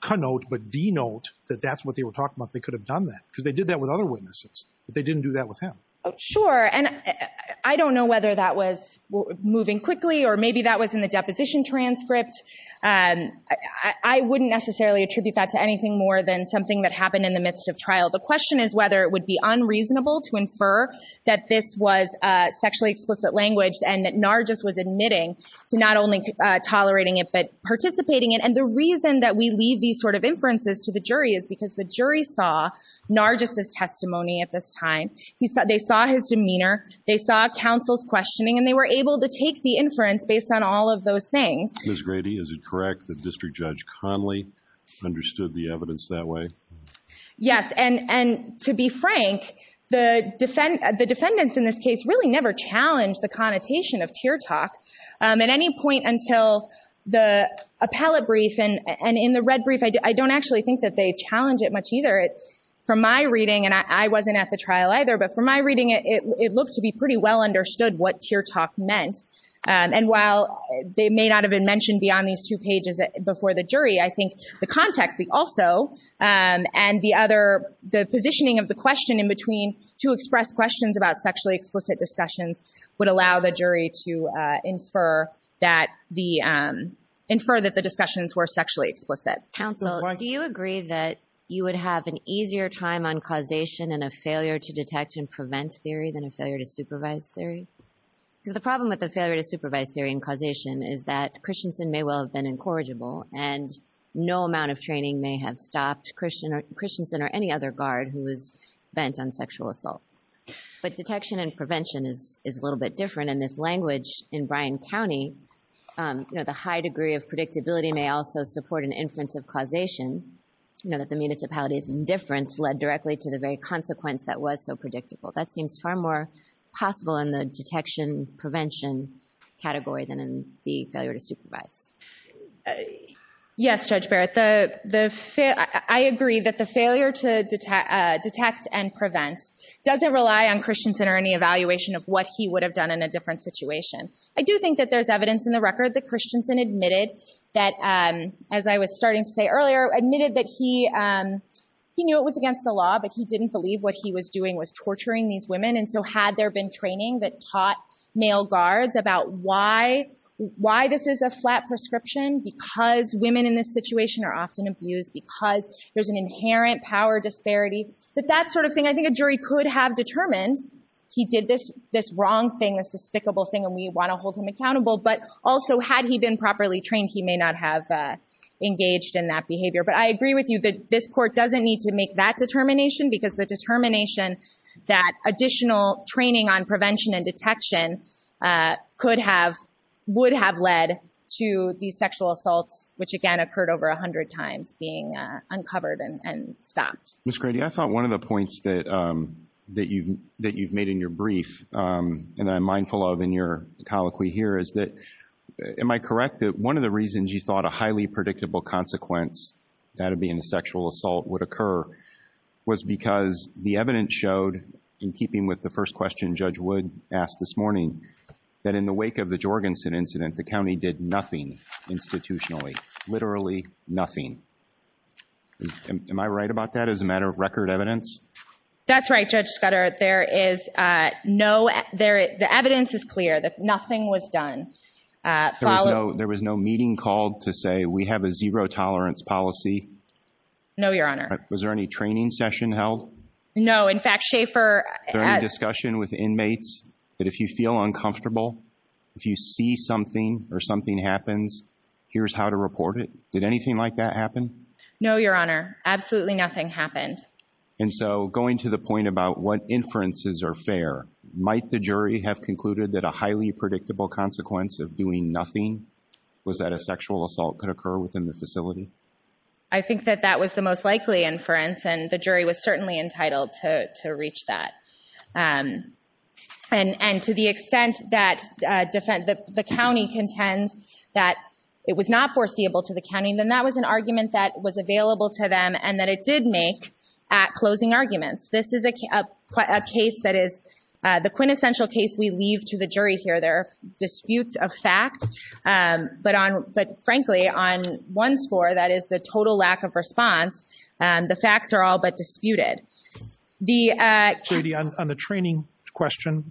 connote, but denote that that's what they were talking about, they could have done that because they did that with other witnesses, but they didn't do that with him. Sure. And I don't know whether that was moving quickly or maybe that was in the deposition transcript. I wouldn't necessarily attribute that to anything more than something that happened in the midst of trial. The question is whether it would be unreasonable to infer that this was sexually explicit language and that Nargis was admitting to not only tolerating it, but participating in it. And the reason that we leave these sort of inferences to the jury is because the jury saw Nargis' testimony at this time. They saw his demeanor. They saw counsel's questioning and they were able to take the inference based on all of those things. Ms. Grady, is it correct that District Judge Conley understood the evidence that way? Yes. And to be frank, the defendants in this case really never challenged the connotation of tear talk at any point until the appellate brief. And in the red brief, I don't actually think that they challenge it much either. From my reading, and I wasn't at the trial either, but from my reading, it looked to be pretty well understood what tear talk meant. And while they may not have been mentioned beyond these two pages before the jury, I think the context also and the other, the positioning of the question in between to express questions about sexually explicit discussions would allow the jury to infer that the, infer that the discussions were sexually explicit. Counsel, do you agree that you would have an easier time on causation and a failure to detect and prevent theory than a failure to supervise theory? Because the problem with the failure to supervise theory and causation is that Christensen may well have been incorrigible and no amount of training may have stopped Christian, Christensen or any other guard who was bent on sexual assault. But detection and prevention is a little bit different in this language in Bryan County. You know, the high degree of predictability may also support an inference of causation, you know, that the municipality's indifference led directly to the very consequence that was so predictable. That seems far more possible in the detection prevention category than in the failure to supervise. Yes, Judge Barrett, I agree that the failure to detect and prevent doesn't rely on Christensen or any evaluation of what he would have done in a different situation. I do think that there's evidence in the record that Christensen admitted that, as I was starting to say earlier, admitted that he knew it was against the law, but he didn't believe what he was doing was torturing these women. And so had there been training that taught male guards about why this is a flat prescription because women in this situation are often abused, because there's an inherent power disparity, that that sort of thing, I think a jury could have determined he did this wrong thing, this despicable thing, and we want to hold him accountable. But also, had he been properly trained, he may not have engaged in that behavior. But I agree with you that this court doesn't need to make that determination because the determination that additional training on prevention and detection could have, would have led to these sexual assaults, which again, occurred over 100 times, being uncovered and stopped. Ms. Grady, I thought one of the points that you've made in your brief, and I'm mindful of in your colloquy here, is that, am I correct, that one of the reasons you thought a highly predictable consequence that'd be in a sexual assault would occur was because the evidence showed, in keeping with the first question Judge Wood asked this morning, that in the wake of the Jorgensen incident, the county did nothing institutionally, literally nothing. Am I right about that, as a matter of record evidence? That's right, Judge Scudder. There is no, the evidence is clear that nothing was done. There was no meeting called to say, we have a zero-tolerance policy? No, Your Honor. Was there any training session held? No, in fact, Schaefer... Was there any discussion with inmates that if you feel uncomfortable, if you see something, or something happens, here's how to report it? Did anything like that happen? No, Your Honor. Absolutely nothing happened. And so, going to the point about what inferences are fair, might the jury have concluded that a highly predictable consequence of doing nothing was that a sexual assault could occur within the facility? I think that that was the most likely inference, and the jury was certainly entitled to reach that. And to the extent that the county contends that it was not foreseeable to the county, then that was an argument that was available to them, and that it did make closing arguments. This is a case that is, the quintessential case we leave to the jury here. There are disputes of fact, but frankly, on one score, that is the total lack of response, the facts are all but disputed. Katie, on the training question,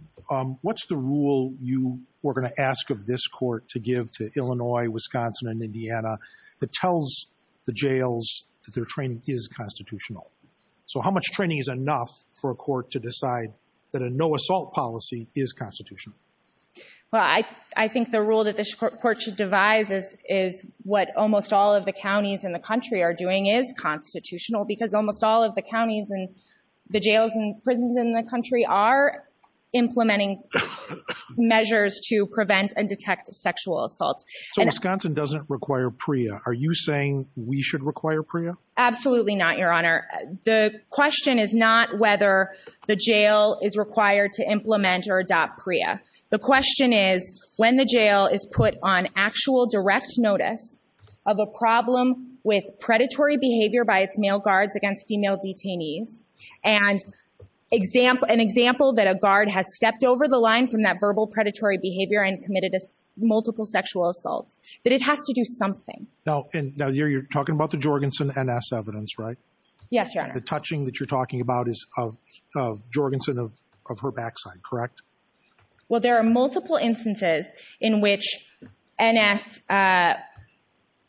what's the rule you were going to ask of this court to give to Illinois, Wisconsin, and Indiana that tells the jails that their training is constitutional? So how much training is enough for a court to decide that a no-assault policy is constitutional? Well, I think the rule that this court should devise is what almost all of the counties in the country are doing is constitutional, because almost all of the counties and the jails and prisons in the country are implementing measures to prevent and detect sexual assaults. So Wisconsin doesn't require PREA. Are you saying we should require PREA? Absolutely not, Your Honor. The question is not whether the jail is required to implement or adopt PREA. The question is when the jail is put on actual direct notice of a problem with predatory behavior by its male guards against female detainees, and an example that a guard has stepped over the line from that verbal predatory behavior and committed multiple sexual assaults, that it has to do something. Now, you're talking about the Jorgensen N.S. evidence, right? Yes, Your Honor. The touching that you're talking about is of Jorgensen, of her backside, correct? Well, there are multiple instances in which N.S.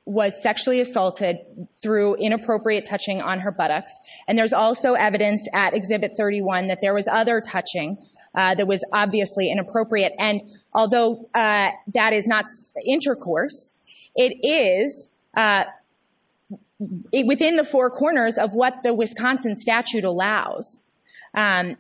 was sexually assaulted through inappropriate touching on her buttocks. And there's also evidence at Exhibit 31 that there was other touching that was obviously inappropriate. And although that is not intercourse, it is within the four corners of what the Wisconsin statute allows. And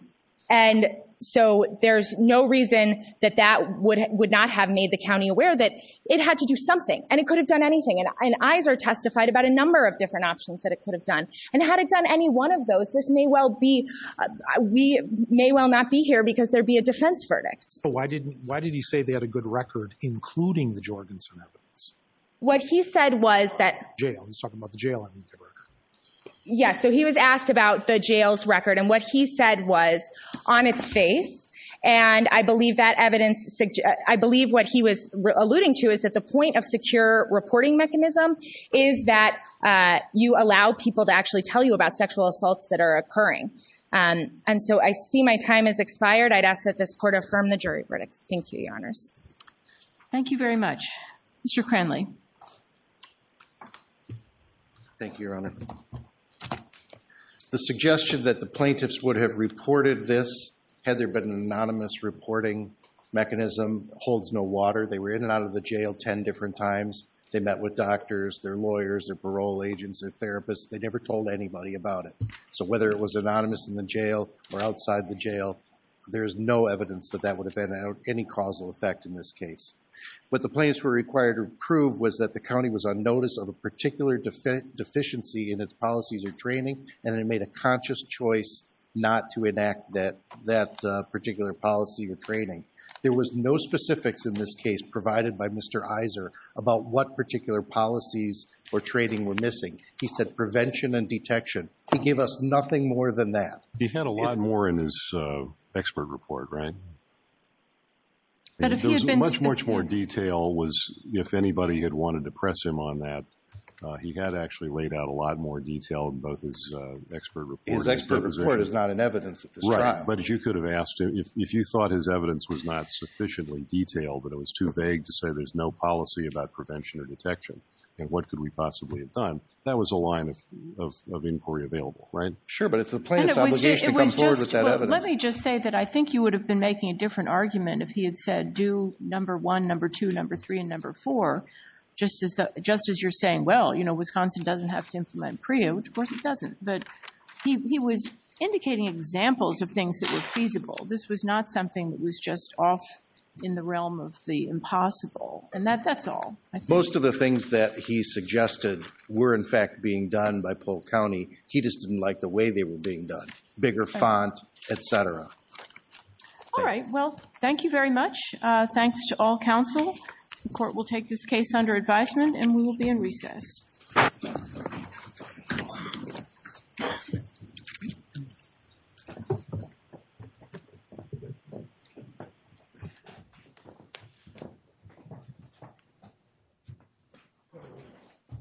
so there's no reason that that would not have made the county aware that it had to do something, and it could have done anything. And eyes are testified about a number of different options that it could have done. And had it done any one of those, this may well be, we may well not be here because there'd be a defense verdict. But why didn't, why did he say they had a good record including the Jorgensen evidence? What he said was that. Jail, he's talking about the jail. Yes, so he was asked about the jail's record and what he said was on its face. And I believe that evidence, I believe what he was alluding to is that the point of secure reporting mechanism is that you allow people to actually tell you about sexual assaults that are occurring. And so I see my time has expired. I'd ask that this court affirm the jury verdict. Thank you, your honors. Thank you very much. Mr. Cranley. Thank you, your honor. The suggestion that the plaintiffs would have reported this had there been an anonymous reporting mechanism holds no water. They were in and out of the jail 10 different times. They met with doctors, their lawyers, their parole agents, their therapists. They never told anybody about it. So whether it was anonymous in the jail or outside the jail, there's no evidence that that would have had any causal effect in this case. What the plaintiffs were required to prove was that the county was on notice of a particular deficiency in its policies or training and it made a conscious choice not to enact that particular policy or training. There was no specifics in this case provided by Mr. Iser about what particular policies or training were missing. He said prevention and detection. He gave us nothing more than that. He had a lot more in his expert report, right? There was much, much more detail was if anybody had wanted to press him on that. He had actually laid out a lot more detail in both his expert report. His expert report is not in evidence at this trial. But you could have asked him if you thought his evidence was not sufficiently detailed, but it was too vague to say there's no policy about prevention or detection and what could we possibly have done. That was a line of inquiry available, right? Sure, but it's the plaintiff's obligation to come forward with that evidence. Let me just say that I think you would have been making a different argument if he had said do number one, number two, number three, and number four, just as you're saying, well, you know, Wisconsin doesn't have to implement PREA, which of course it doesn't. But he was indicating examples of things that were feasible. This was not something that was just off in the realm of the impossible. And that's all. Most of the things that he suggested were, in fact, being done by Polk County. He just didn't like the way they were being done. Bigger font, et cetera. All right. Well, thank you very much. Thanks to all counsel. The court will take this case under advisement and we will be in recess.